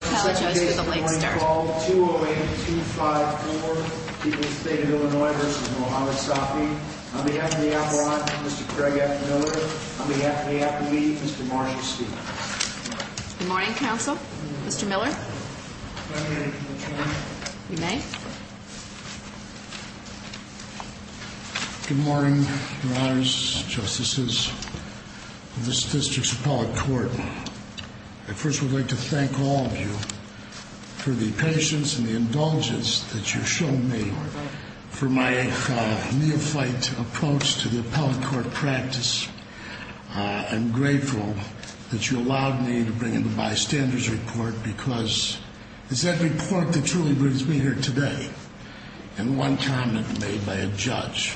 Apologize for the late start. Good morning. Call 208-254. People's State of Illinois v. Mohamed Safi. On behalf of the Avalon, Mr. Craig F. Miller. On behalf of the Applebee, Mr. Marshall Steele. Good morning, counsel. Mr. Miller. If I may. You may. Good morning, your honors, justices of this district's appellate court. I first would like to thank all of you for the patience and the indulgence that you've shown me for my neophyte approach to the appellate court practice. I'm grateful that you allowed me to bring in the bystanders report because it's that report that truly brings me here today. And one comment made by a judge.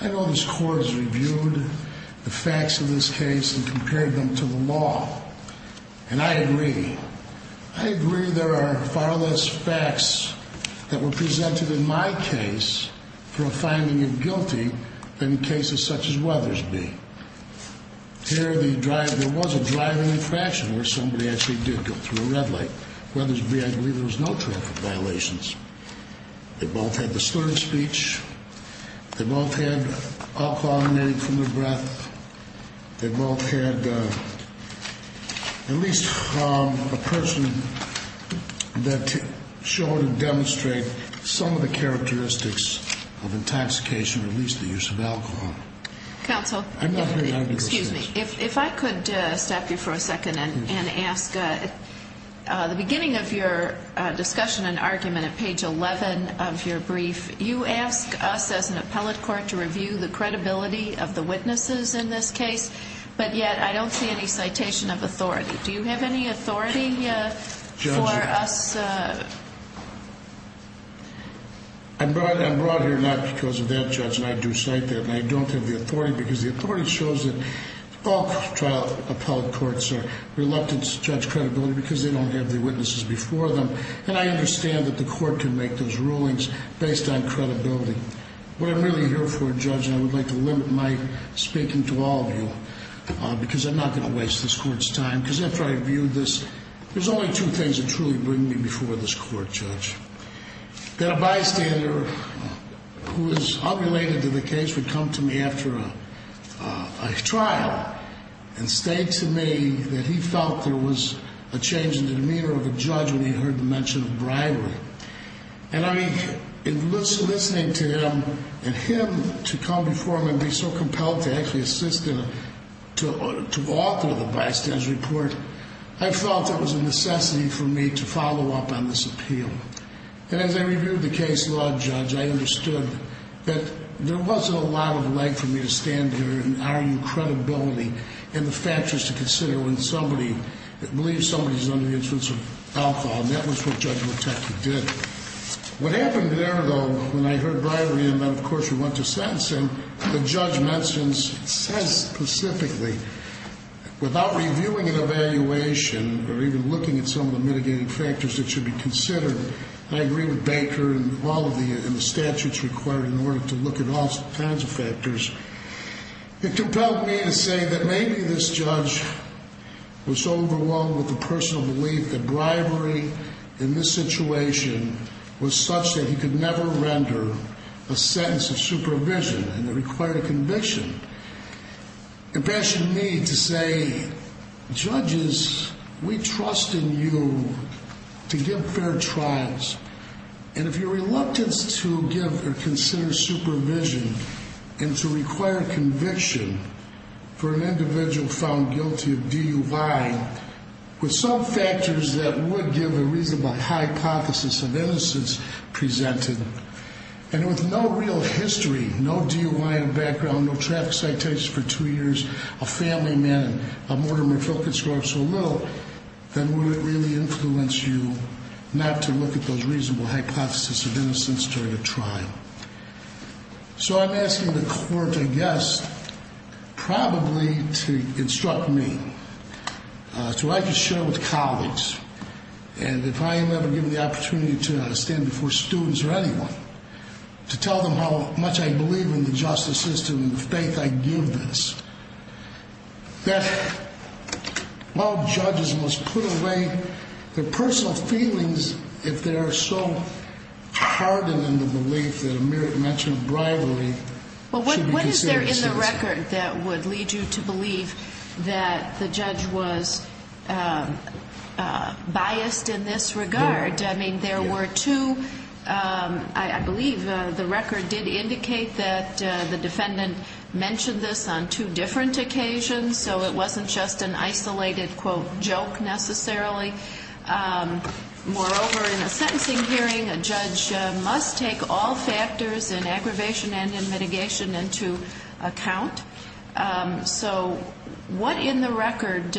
I know this court has reviewed the facts of this case and compared them to the law. And I agree. I agree there are far less facts that were presented in my case for a finding of guilty than cases such as Weathersby. There was a driving infraction where somebody actually did go through a red light. Weathersby, I believe, there was no traffic violations. They both had the slurred speech. They both had alcohol emitted from their breath. They both had at least a person that showed and demonstrated some of the characteristics of intoxication or at least the use of alcohol. Counsel, if I could stop you for a second and ask. At the beginning of your discussion and argument at page 11 of your brief, you ask us as an appellate court to review the credibility of the witnesses in this case. But yet I don't see any citation of authority. Do you have any authority for us? I'm brought here not because of that, Judge, and I do cite that. And I don't have the authority because the authority shows that all trial appellate courts are reluctant to judge credibility because they don't have the witnesses before them. And I understand that the court can make those rulings based on credibility. What I'm really here for, Judge, and I would like to limit my speaking to all of you because I'm not going to waste this court's time. Because after I review this, there's only two things that truly bring me before this court, Judge. That a bystander who is unrelated to the case would come to me after a trial and state to me that he felt there was a change in the demeanor of a judge when he heard the mention of bribery. And in listening to him and him to come before me and be so compelled to actually assist him to author the bystander's report, I felt it was a necessity for me to follow up on this appeal. And as I reviewed the case law, Judge, I understood that there wasn't a lot of leg for me to stand here and argue credibility and the factors to consider when somebody believes somebody is under the influence of alcohol. And that was what Judge Moteki did. What happened there, though, when I heard bribery, and then of course we went to sentencing, the judge mentions, says specifically, without reviewing an evaluation or even looking at some of the mitigating factors that should be considered, and I agree with Baker and all of the statutes required in order to look at all kinds of factors, it compelled me to say that maybe this judge was overwhelmed with the personal belief that bribery in this situation was such that he could never render a sentence of supervision and that required a conviction. It impassioned me to say, judges, we trust in you to give fair trials, and if you're reluctant to give or consider supervision and to require conviction for an individual found guilty of DUI, with some factors that would give a reasonable hypothesis of innocence presented, and with no real history, no DUI in the background, no traffic citations for two years, a family man, a mortar and refill could score up so little, then would it really influence you not to look at those reasonable hypotheses of innocence during a trial? So I'm asking the court, I guess, probably to instruct me, so I can share with colleagues, and if I am ever given the opportunity to stand before students or anyone, to tell them how much I believe in the justice system and the faith I give this, that while judges must put away their personal feelings if they are so hardened in the belief that a mere mention of bribery should be considered a citizen. There is a record that would lead you to believe that the judge was biased in this regard. I mean, there were two, I believe the record did indicate that the defendant mentioned this on two different occasions, so it wasn't just an isolated, quote, joke necessarily. Moreover, in a sentencing hearing, a judge must take all factors in aggravation and in mitigation into account. So what in the record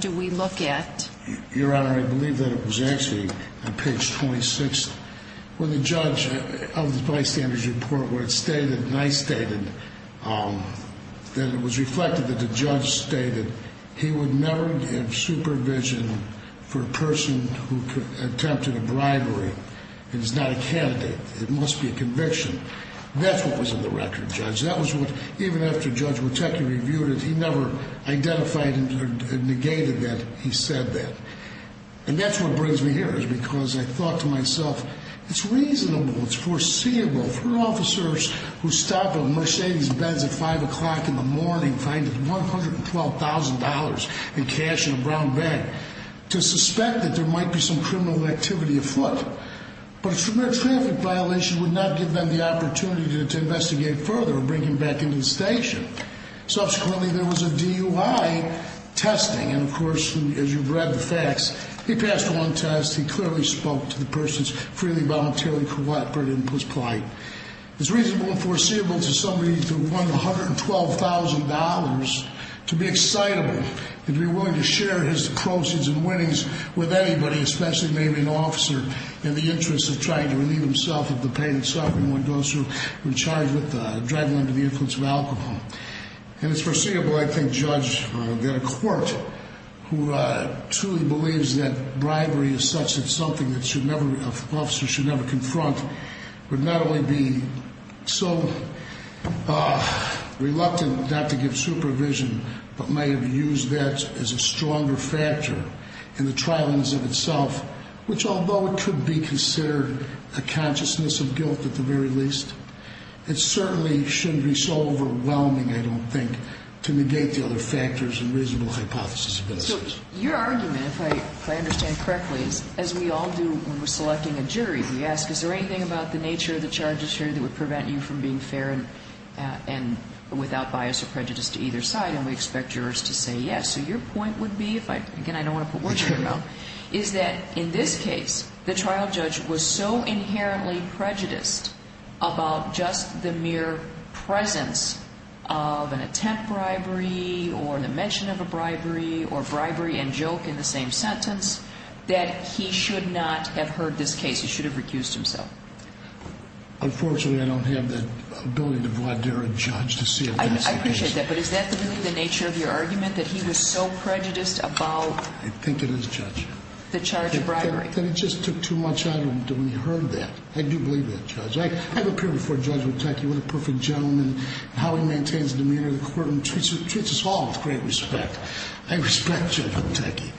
do we look at? Your Honor, I believe that it was actually on page 26 of the bystander's report where it stated, and I stated, that it was reflected that the judge stated he would never give supervision for a person who attempted a bribery. It is not a candidate. It must be a conviction. That's what was in the record, Judge. That was what, even after Judge Woteki reviewed it, he never identified or negated that he said that. And that's what brings me here, is because I thought to myself, it's reasonable, it's foreseeable for officers who stop at Mercedes' beds at 5 o'clock in the morning, find $112,000 in cash in a brown bag, to suspect that there might be some criminal activity afoot. But a severe traffic violation would not give them the opportunity to investigate further or bring him back into the station. Subsequently, there was a DUI testing, and of course, as you've read the facts, he passed one test, he clearly spoke to the person's freely, voluntarily, co-operative and post-plaint. It's reasonable and foreseeable to somebody who won $112,000 to be excitable and to be willing to share his proceeds and winnings with anybody, especially maybe an officer, in the interest of trying to relieve himself of the pain and suffering of those who are charged with driving under the influence of alcohol. And it's foreseeable, I think, Judge, that a court who truly believes that bribery is such a something that an officer should never confront, would not only be so reluctant not to give supervision, but may have used that as a stronger factor in the trial in and of itself, which although it could be considered a consciousness of guilt at the very least, it certainly shouldn't be so overwhelming, I don't think, to negate the other factors and reasonable hypothesis of innocence. So your argument, if I understand correctly, as we all do when we're selecting a jury, we ask, is there anything about the nature of the charges here that would prevent you from being fair and without bias or prejudice to either side? And we expect jurors to say yes. So your point would be, again, I don't want to put words in your mouth, is that in this case, the trial judge was so inherently prejudiced about just the mere presence of an attempt bribery or the mention of a bribery or bribery and joke in the same sentence that he should not have heard this case. He should have recused himself. Unfortunately, I don't have the ability to voir dire a judge to see it. I appreciate that. But is that really the nature of your argument, that he was so prejudiced about? I think it is, Judge. The charge of bribery. That it just took too much out of him when he heard that. I do believe that, Judge. I have appeared before Judge Witecki, what a perfect gentleman, how he maintains a demeanor that treats us all with great respect. I respect Judge Witecki.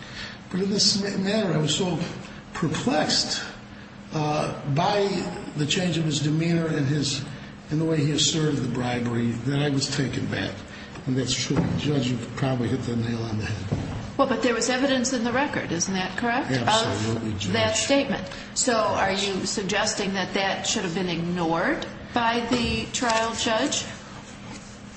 But in this matter, I was so perplexed by the change of his demeanor and the way he asserted the bribery that I was taken aback. And that's true. Judge, you probably hit the nail on the head. Well, but there was evidence in the record, isn't that correct? Absolutely, Judge. Of that statement. So are you suggesting that that should have been ignored by the trial judge?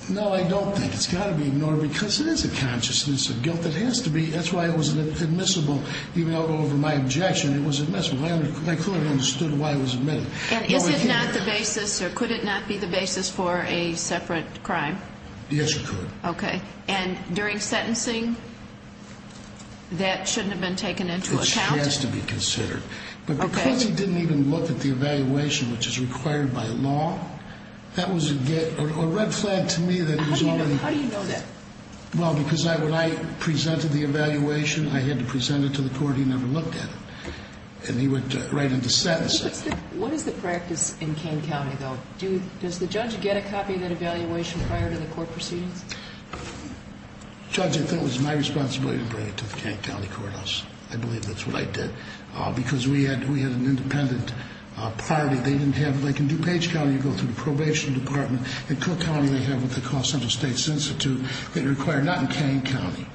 No, I don't think it's got to be ignored because it is a consciousness of guilt. But it has to be. That's why it was admissible. Even over my objection, it was admissible. My client understood why it was admitted. And is it not the basis, or could it not be the basis for a separate crime? Yes, it could. Okay. And during sentencing, that shouldn't have been taken into account? It has to be considered. But because he didn't even look at the evaluation, which is required by law, that was a red flag to me that he was already. How do you know that? Well, because when I presented the evaluation, I had to present it to the court. He never looked at it. And he went right into sentencing. What is the practice in Kane County, though? Does the judge get a copy of that evaluation prior to the court proceedings? Judge, I think it was my responsibility to bring it to the Kane County Courthouse. I believe that's what I did. Because we had an independent party. They didn't have it. Like in DuPage County, you go through the probation department. In Cook County, they have what they call Central States Institute. They require not in Kane County.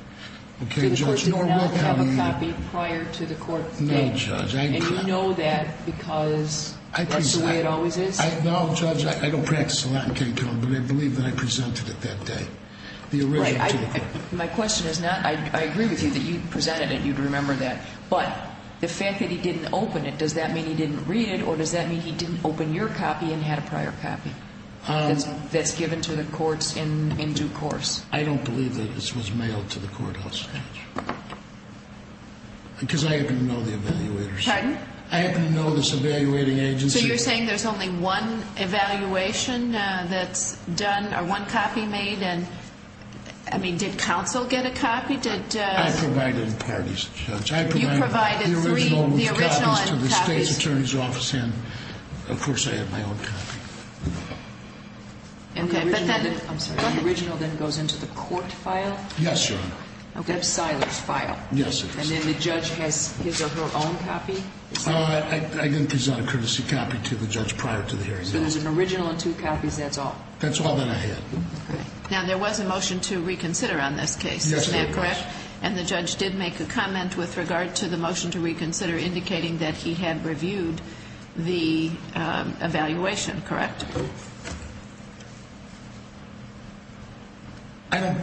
Do the courts not have a copy prior to the court date? No, Judge. And you know that because that's the way it always is? No, Judge, I don't practice a lot in Kane County. But I believe that I presented it that day, the original to the court. My question is not, I agree with you that you presented it, you'd remember that. But the fact that he didn't open it, does that mean he didn't read it, or does that mean he didn't open your copy and had a prior copy? That's given to the courts in due course. I don't believe that this was mailed to the courthouse, Judge. Because I happen to know the evaluators. Pardon? I happen to know this evaluating agency. So you're saying there's only one evaluation that's done, or one copy made? And, I mean, did counsel get a copy? I provided parties, Judge. You provided three, the original and copies. And, of course, I have my own copy. Okay, but that, I'm sorry, the original then goes into the court file? Yes, Your Honor. Okay. That's Siler's file? Yes, it is. And then the judge has his or her own copy? I didn't present a courtesy copy to the judge prior to the hearing. So there's an original and two copies, that's all? That's all that I had. Now, there was a motion to reconsider on this case, is that correct? Yes, there was. And the judge did make a comment with regard to the motion to reconsider, indicating that he had reviewed the evaluation, correct? I don't,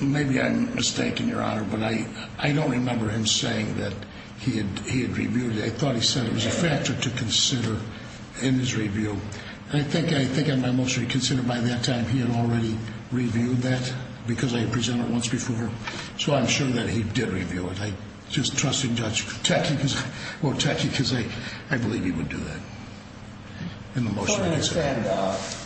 maybe I'm mistaken, Your Honor, but I don't remember him saying that he had reviewed it. I thought he said it was a factor to consider in his review. I think in my motion to reconsider, by that time, he had already reviewed that because I had presented it once before. So I'm sure that he did review it. I just trust that the judge will attack you because I believe he would do that in the motion. I don't understand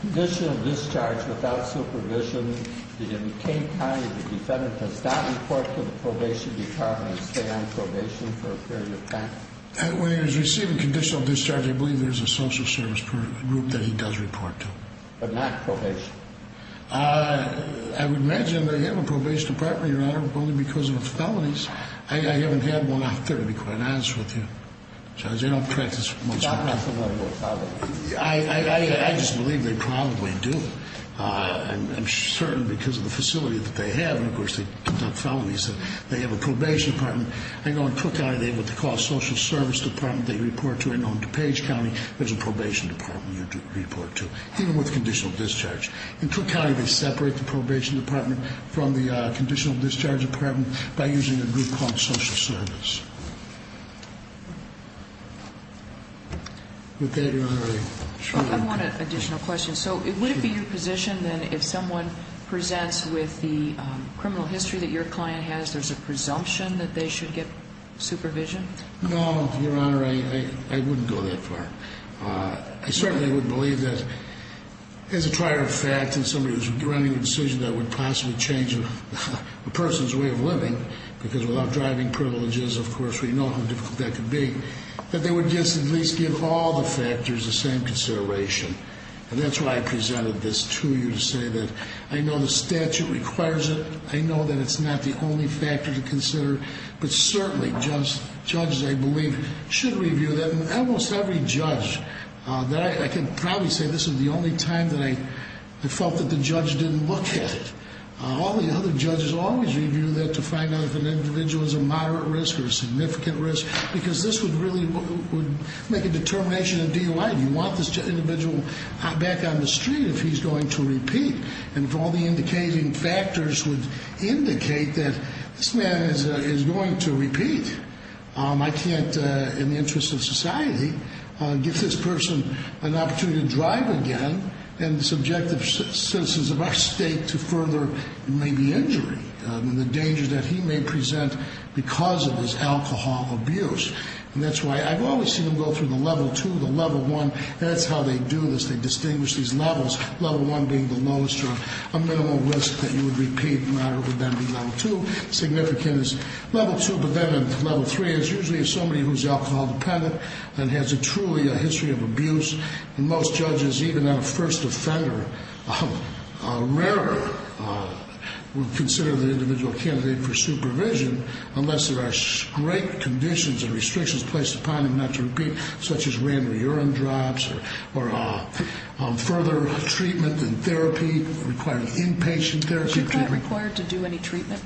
conditional discharge without supervision. In Cape County, the defendant does not report to the probation department and stay on probation for a period of time? When he was receiving conditional discharge, I believe there's a social service group that he does report to. But not probation? I would imagine they have a probation department, Your Honor, but only because of the felonies. I haven't had one out there, to be quite honest with you. I just believe they probably do. I'm certain because of the facility that they have, and, of course, they conduct felonies. They have a probation department. In Cook County, they have what they call a social service department. They report to it. In DuPage County, there's a probation department you report to, even with conditional discharge. In Cook County, they separate the probation department from the conditional discharge department by using a group called social service. With that, Your Honor, I shall. I want an additional question. So would it be your position that if someone presents with the criminal history that your client has, there's a presumption that they should get supervision? No, Your Honor, I wouldn't go that far. I certainly wouldn't believe that. As a prior fact, if somebody was running a decision that would possibly change a person's way of living, because without driving privileges, of course, we know how difficult that could be. But they would just at least give all the factors the same consideration. And that's why I presented this to you to say that I know the statute requires it. I know that it's not the only factor to consider. But certainly, judges, I believe, should review that. And almost every judge that I can probably say this is the only time that I felt that the judge didn't look at it. All the other judges always review that to find out if an individual is a moderate risk or a significant risk, because this would really make a determination in DOI. Do you want this individual back on the street if he's going to repeat? And if all the indicating factors would indicate that this man is going to repeat, I can't, in the interest of society, give this person an opportunity to drive again and subject the citizens of our state to further, maybe, injury and the dangers that he may present because of his alcohol abuse. And that's why I've always seen them go through the level 2, the level 1. That's how they do this. They distinguish these levels, level 1 being the lowest or a minimal risk that you would repeat, moderate would then be level 2, significant is level 2. But then in level 3, it's usually somebody who's alcohol dependent and has truly a history of abuse. And most judges, even on a first offender, rarely would consider the individual a candidate for supervision unless there are great conditions and restrictions placed upon him not to repeat, such as random urine drops or further treatment and therapy requiring inpatient therapy. Was your client required to do any treatment?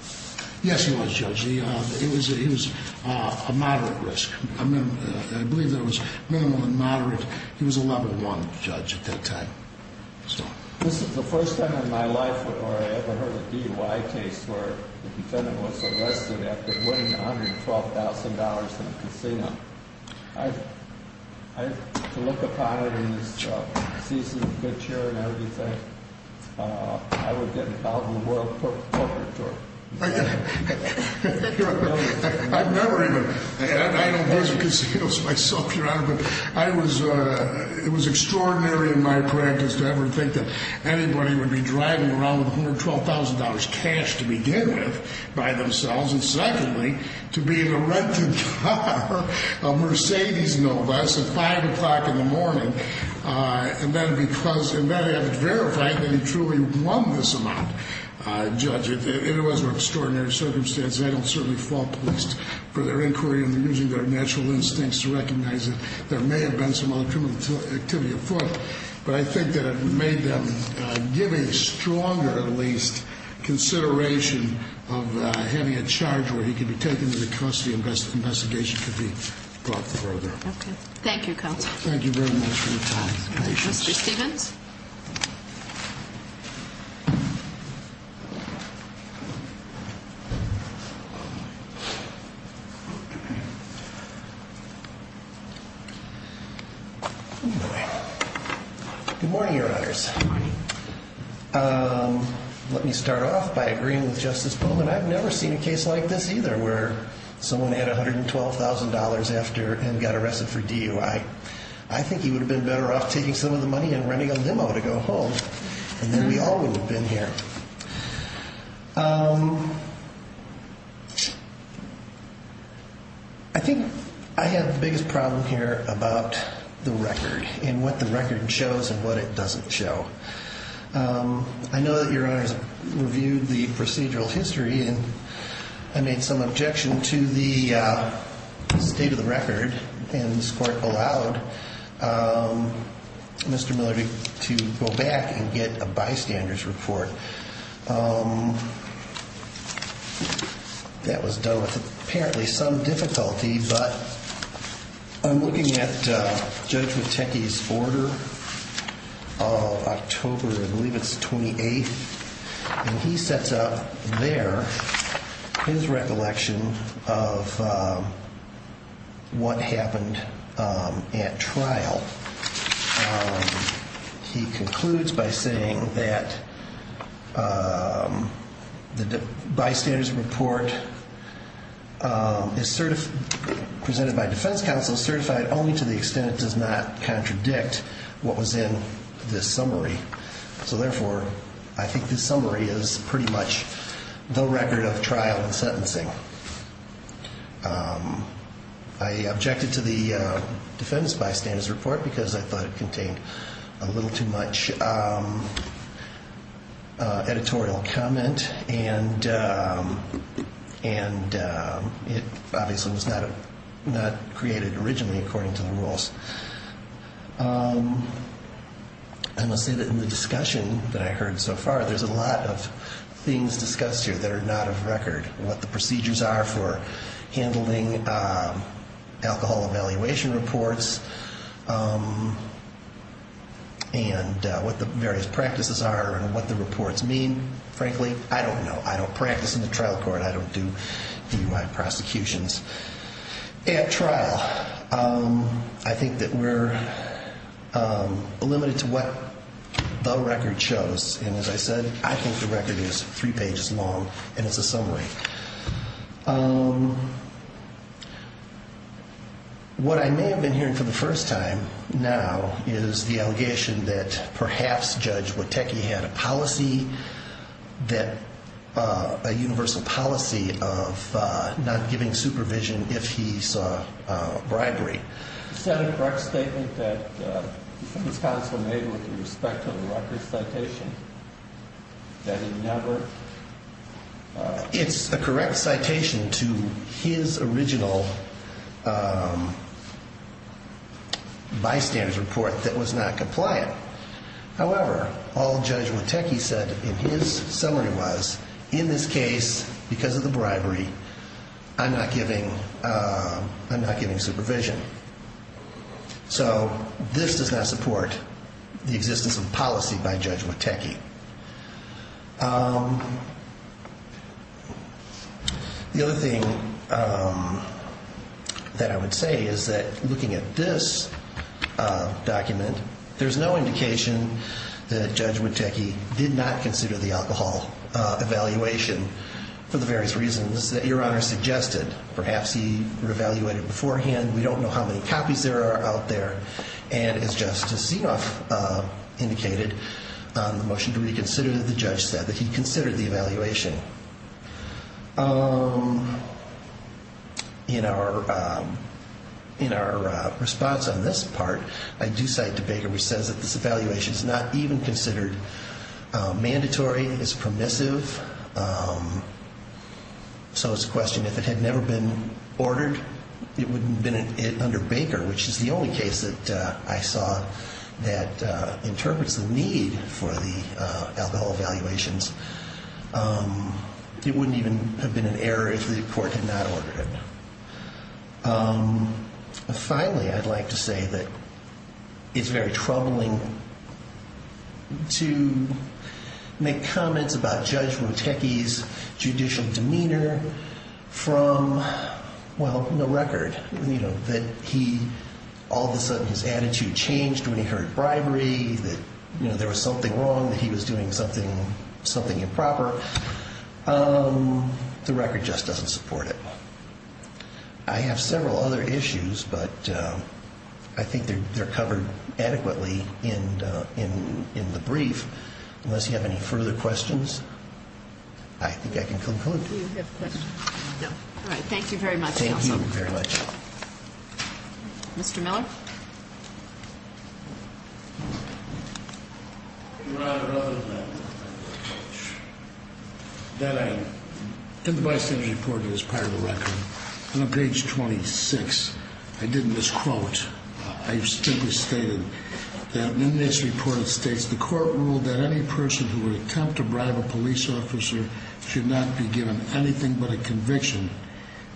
Yes, he was, Judge. He was a moderate risk. I believe that it was minimal and moderate. He was a level 1 judge at that time. This is the first time in my life where I ever heard a DUI case where the defendant was arrested after winning $112,000 in a casino. To look upon it in this season of good cheer and everything, I would get an album of world portraiture. I've never even had. I don't visit casinos myself, Your Honor. But it was extraordinary in my practice to ever think that anybody would be driving around with $112,000 cash to begin with by themselves. And secondly, to be in a rented car, a Mercedes Nova, at 5 o'clock in the morning, and then have it verified that he truly won this amount. Judge, it was an extraordinary circumstance. I don't certainly fall pleased for their inquiry. I'm using their natural instincts to recognize that there may have been some other criminal activity afoot. But I think that it made them give a stronger, at least, consideration of having a charge where he could be taken to the custody investigation could be brought further. Okay. Thank you, Counsel. Thank you very much for your time. Thank you. Mr. Stevens? Good morning, Your Honors. Good morning. Let me start off by agreeing with Justice Pullman. I've never seen a case like this either where someone had $112,000 after and got arrested for DUI. I think he would have been better off taking some of the money and renting a limo to go home. And then we all would have been here. I think I have the biggest problem here about the record and what the record shows and what it doesn't show. I know that Your Honors reviewed the procedural history and I made some objection to the state of the record. And this Court allowed Mr. Miller to go back and get a bystander's report. That was done with apparently some difficulty. But I'm looking at Judge Witecki's order of October, I believe it's the 28th. And he sets up there his recollection of what happened at trial. He concludes by saying that the bystander's report is presented by defense counsel certified only to the extent it does not contradict what was in this summary. So therefore, I think this summary is pretty much the record of trial and sentencing. I objected to the defendant's bystander's report because I thought it contained a little too much editorial comment. And it obviously was not created originally according to the rules. I must say that in the discussion that I heard so far, there's a lot of things discussed here that are not of record. What the procedures are for handling alcohol evaluation reports and what the various practices are and what the reports mean. Frankly, I don't know. I don't practice in the trial court. I don't do DUI prosecutions. At trial, I think that we're limited to what the record shows. And as I said, I think the record is three pages long and it's a summary. What I may have been hearing for the first time now is the allegation that perhaps Judge Witecki had a policy, a universal policy of not giving supervision if he saw bribery. He said a correct statement that his counsel made with respect to the record citation, that he never... It's a correct citation to his original bystander's report that was not compliant. However, all Judge Witecki said in his summary was, in this case, because of the bribery, I'm not giving supervision. So this does not support the existence of policy by Judge Witecki. The other thing that I would say is that looking at this document, there's no indication that Judge Witecki did not consider the alcohol evaluation for the various reasons that Your Honor suggested. Perhaps he re-evaluated beforehand. We don't know how many copies there are out there. And as Justice Zinoff indicated on the motion to reconsider, the judge said that he considered the evaluation. In our response on this part, I do cite DeBaker, who says that this evaluation is not even considered mandatory. It's permissive. So it's a question, if it had never been ordered, it wouldn't have been under Baker, which is the only case that I saw that interprets the need for the alcohol evaluations. It wouldn't even have been an error if the court had not ordered it. Finally, I'd like to say that it's very troubling to make comments on this case. Comments about Judge Witecki's judicial demeanor from, well, no record. That he, all of a sudden, his attitude changed when he heard bribery. That there was something wrong, that he was doing something improper. The record just doesn't support it. I have several other issues, but I think they're covered adequately in the brief. Unless you have any further questions, I think I can conclude. Do you have questions? No. All right. Thank you very much, counsel. Thank you very much. Mr. Miller? Your Honor, other than that I think the bystander's report is part of the record. On page 26, I didn't misquote. I simply stated that in this report it states, the court ruled that any person who would attempt to bribe a police officer should not be given anything but a conviction.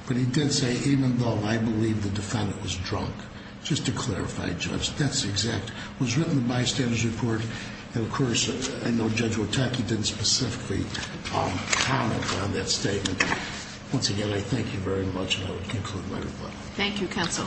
But he did say, even though I believe the defendant was drunk. Just to clarify, Judge, that's exact. It was written in the bystander's report. And of course, I know Judge Witecki didn't specifically comment on that statement. Once again, I thank you very much, and I will conclude my report. Thank you, counsel.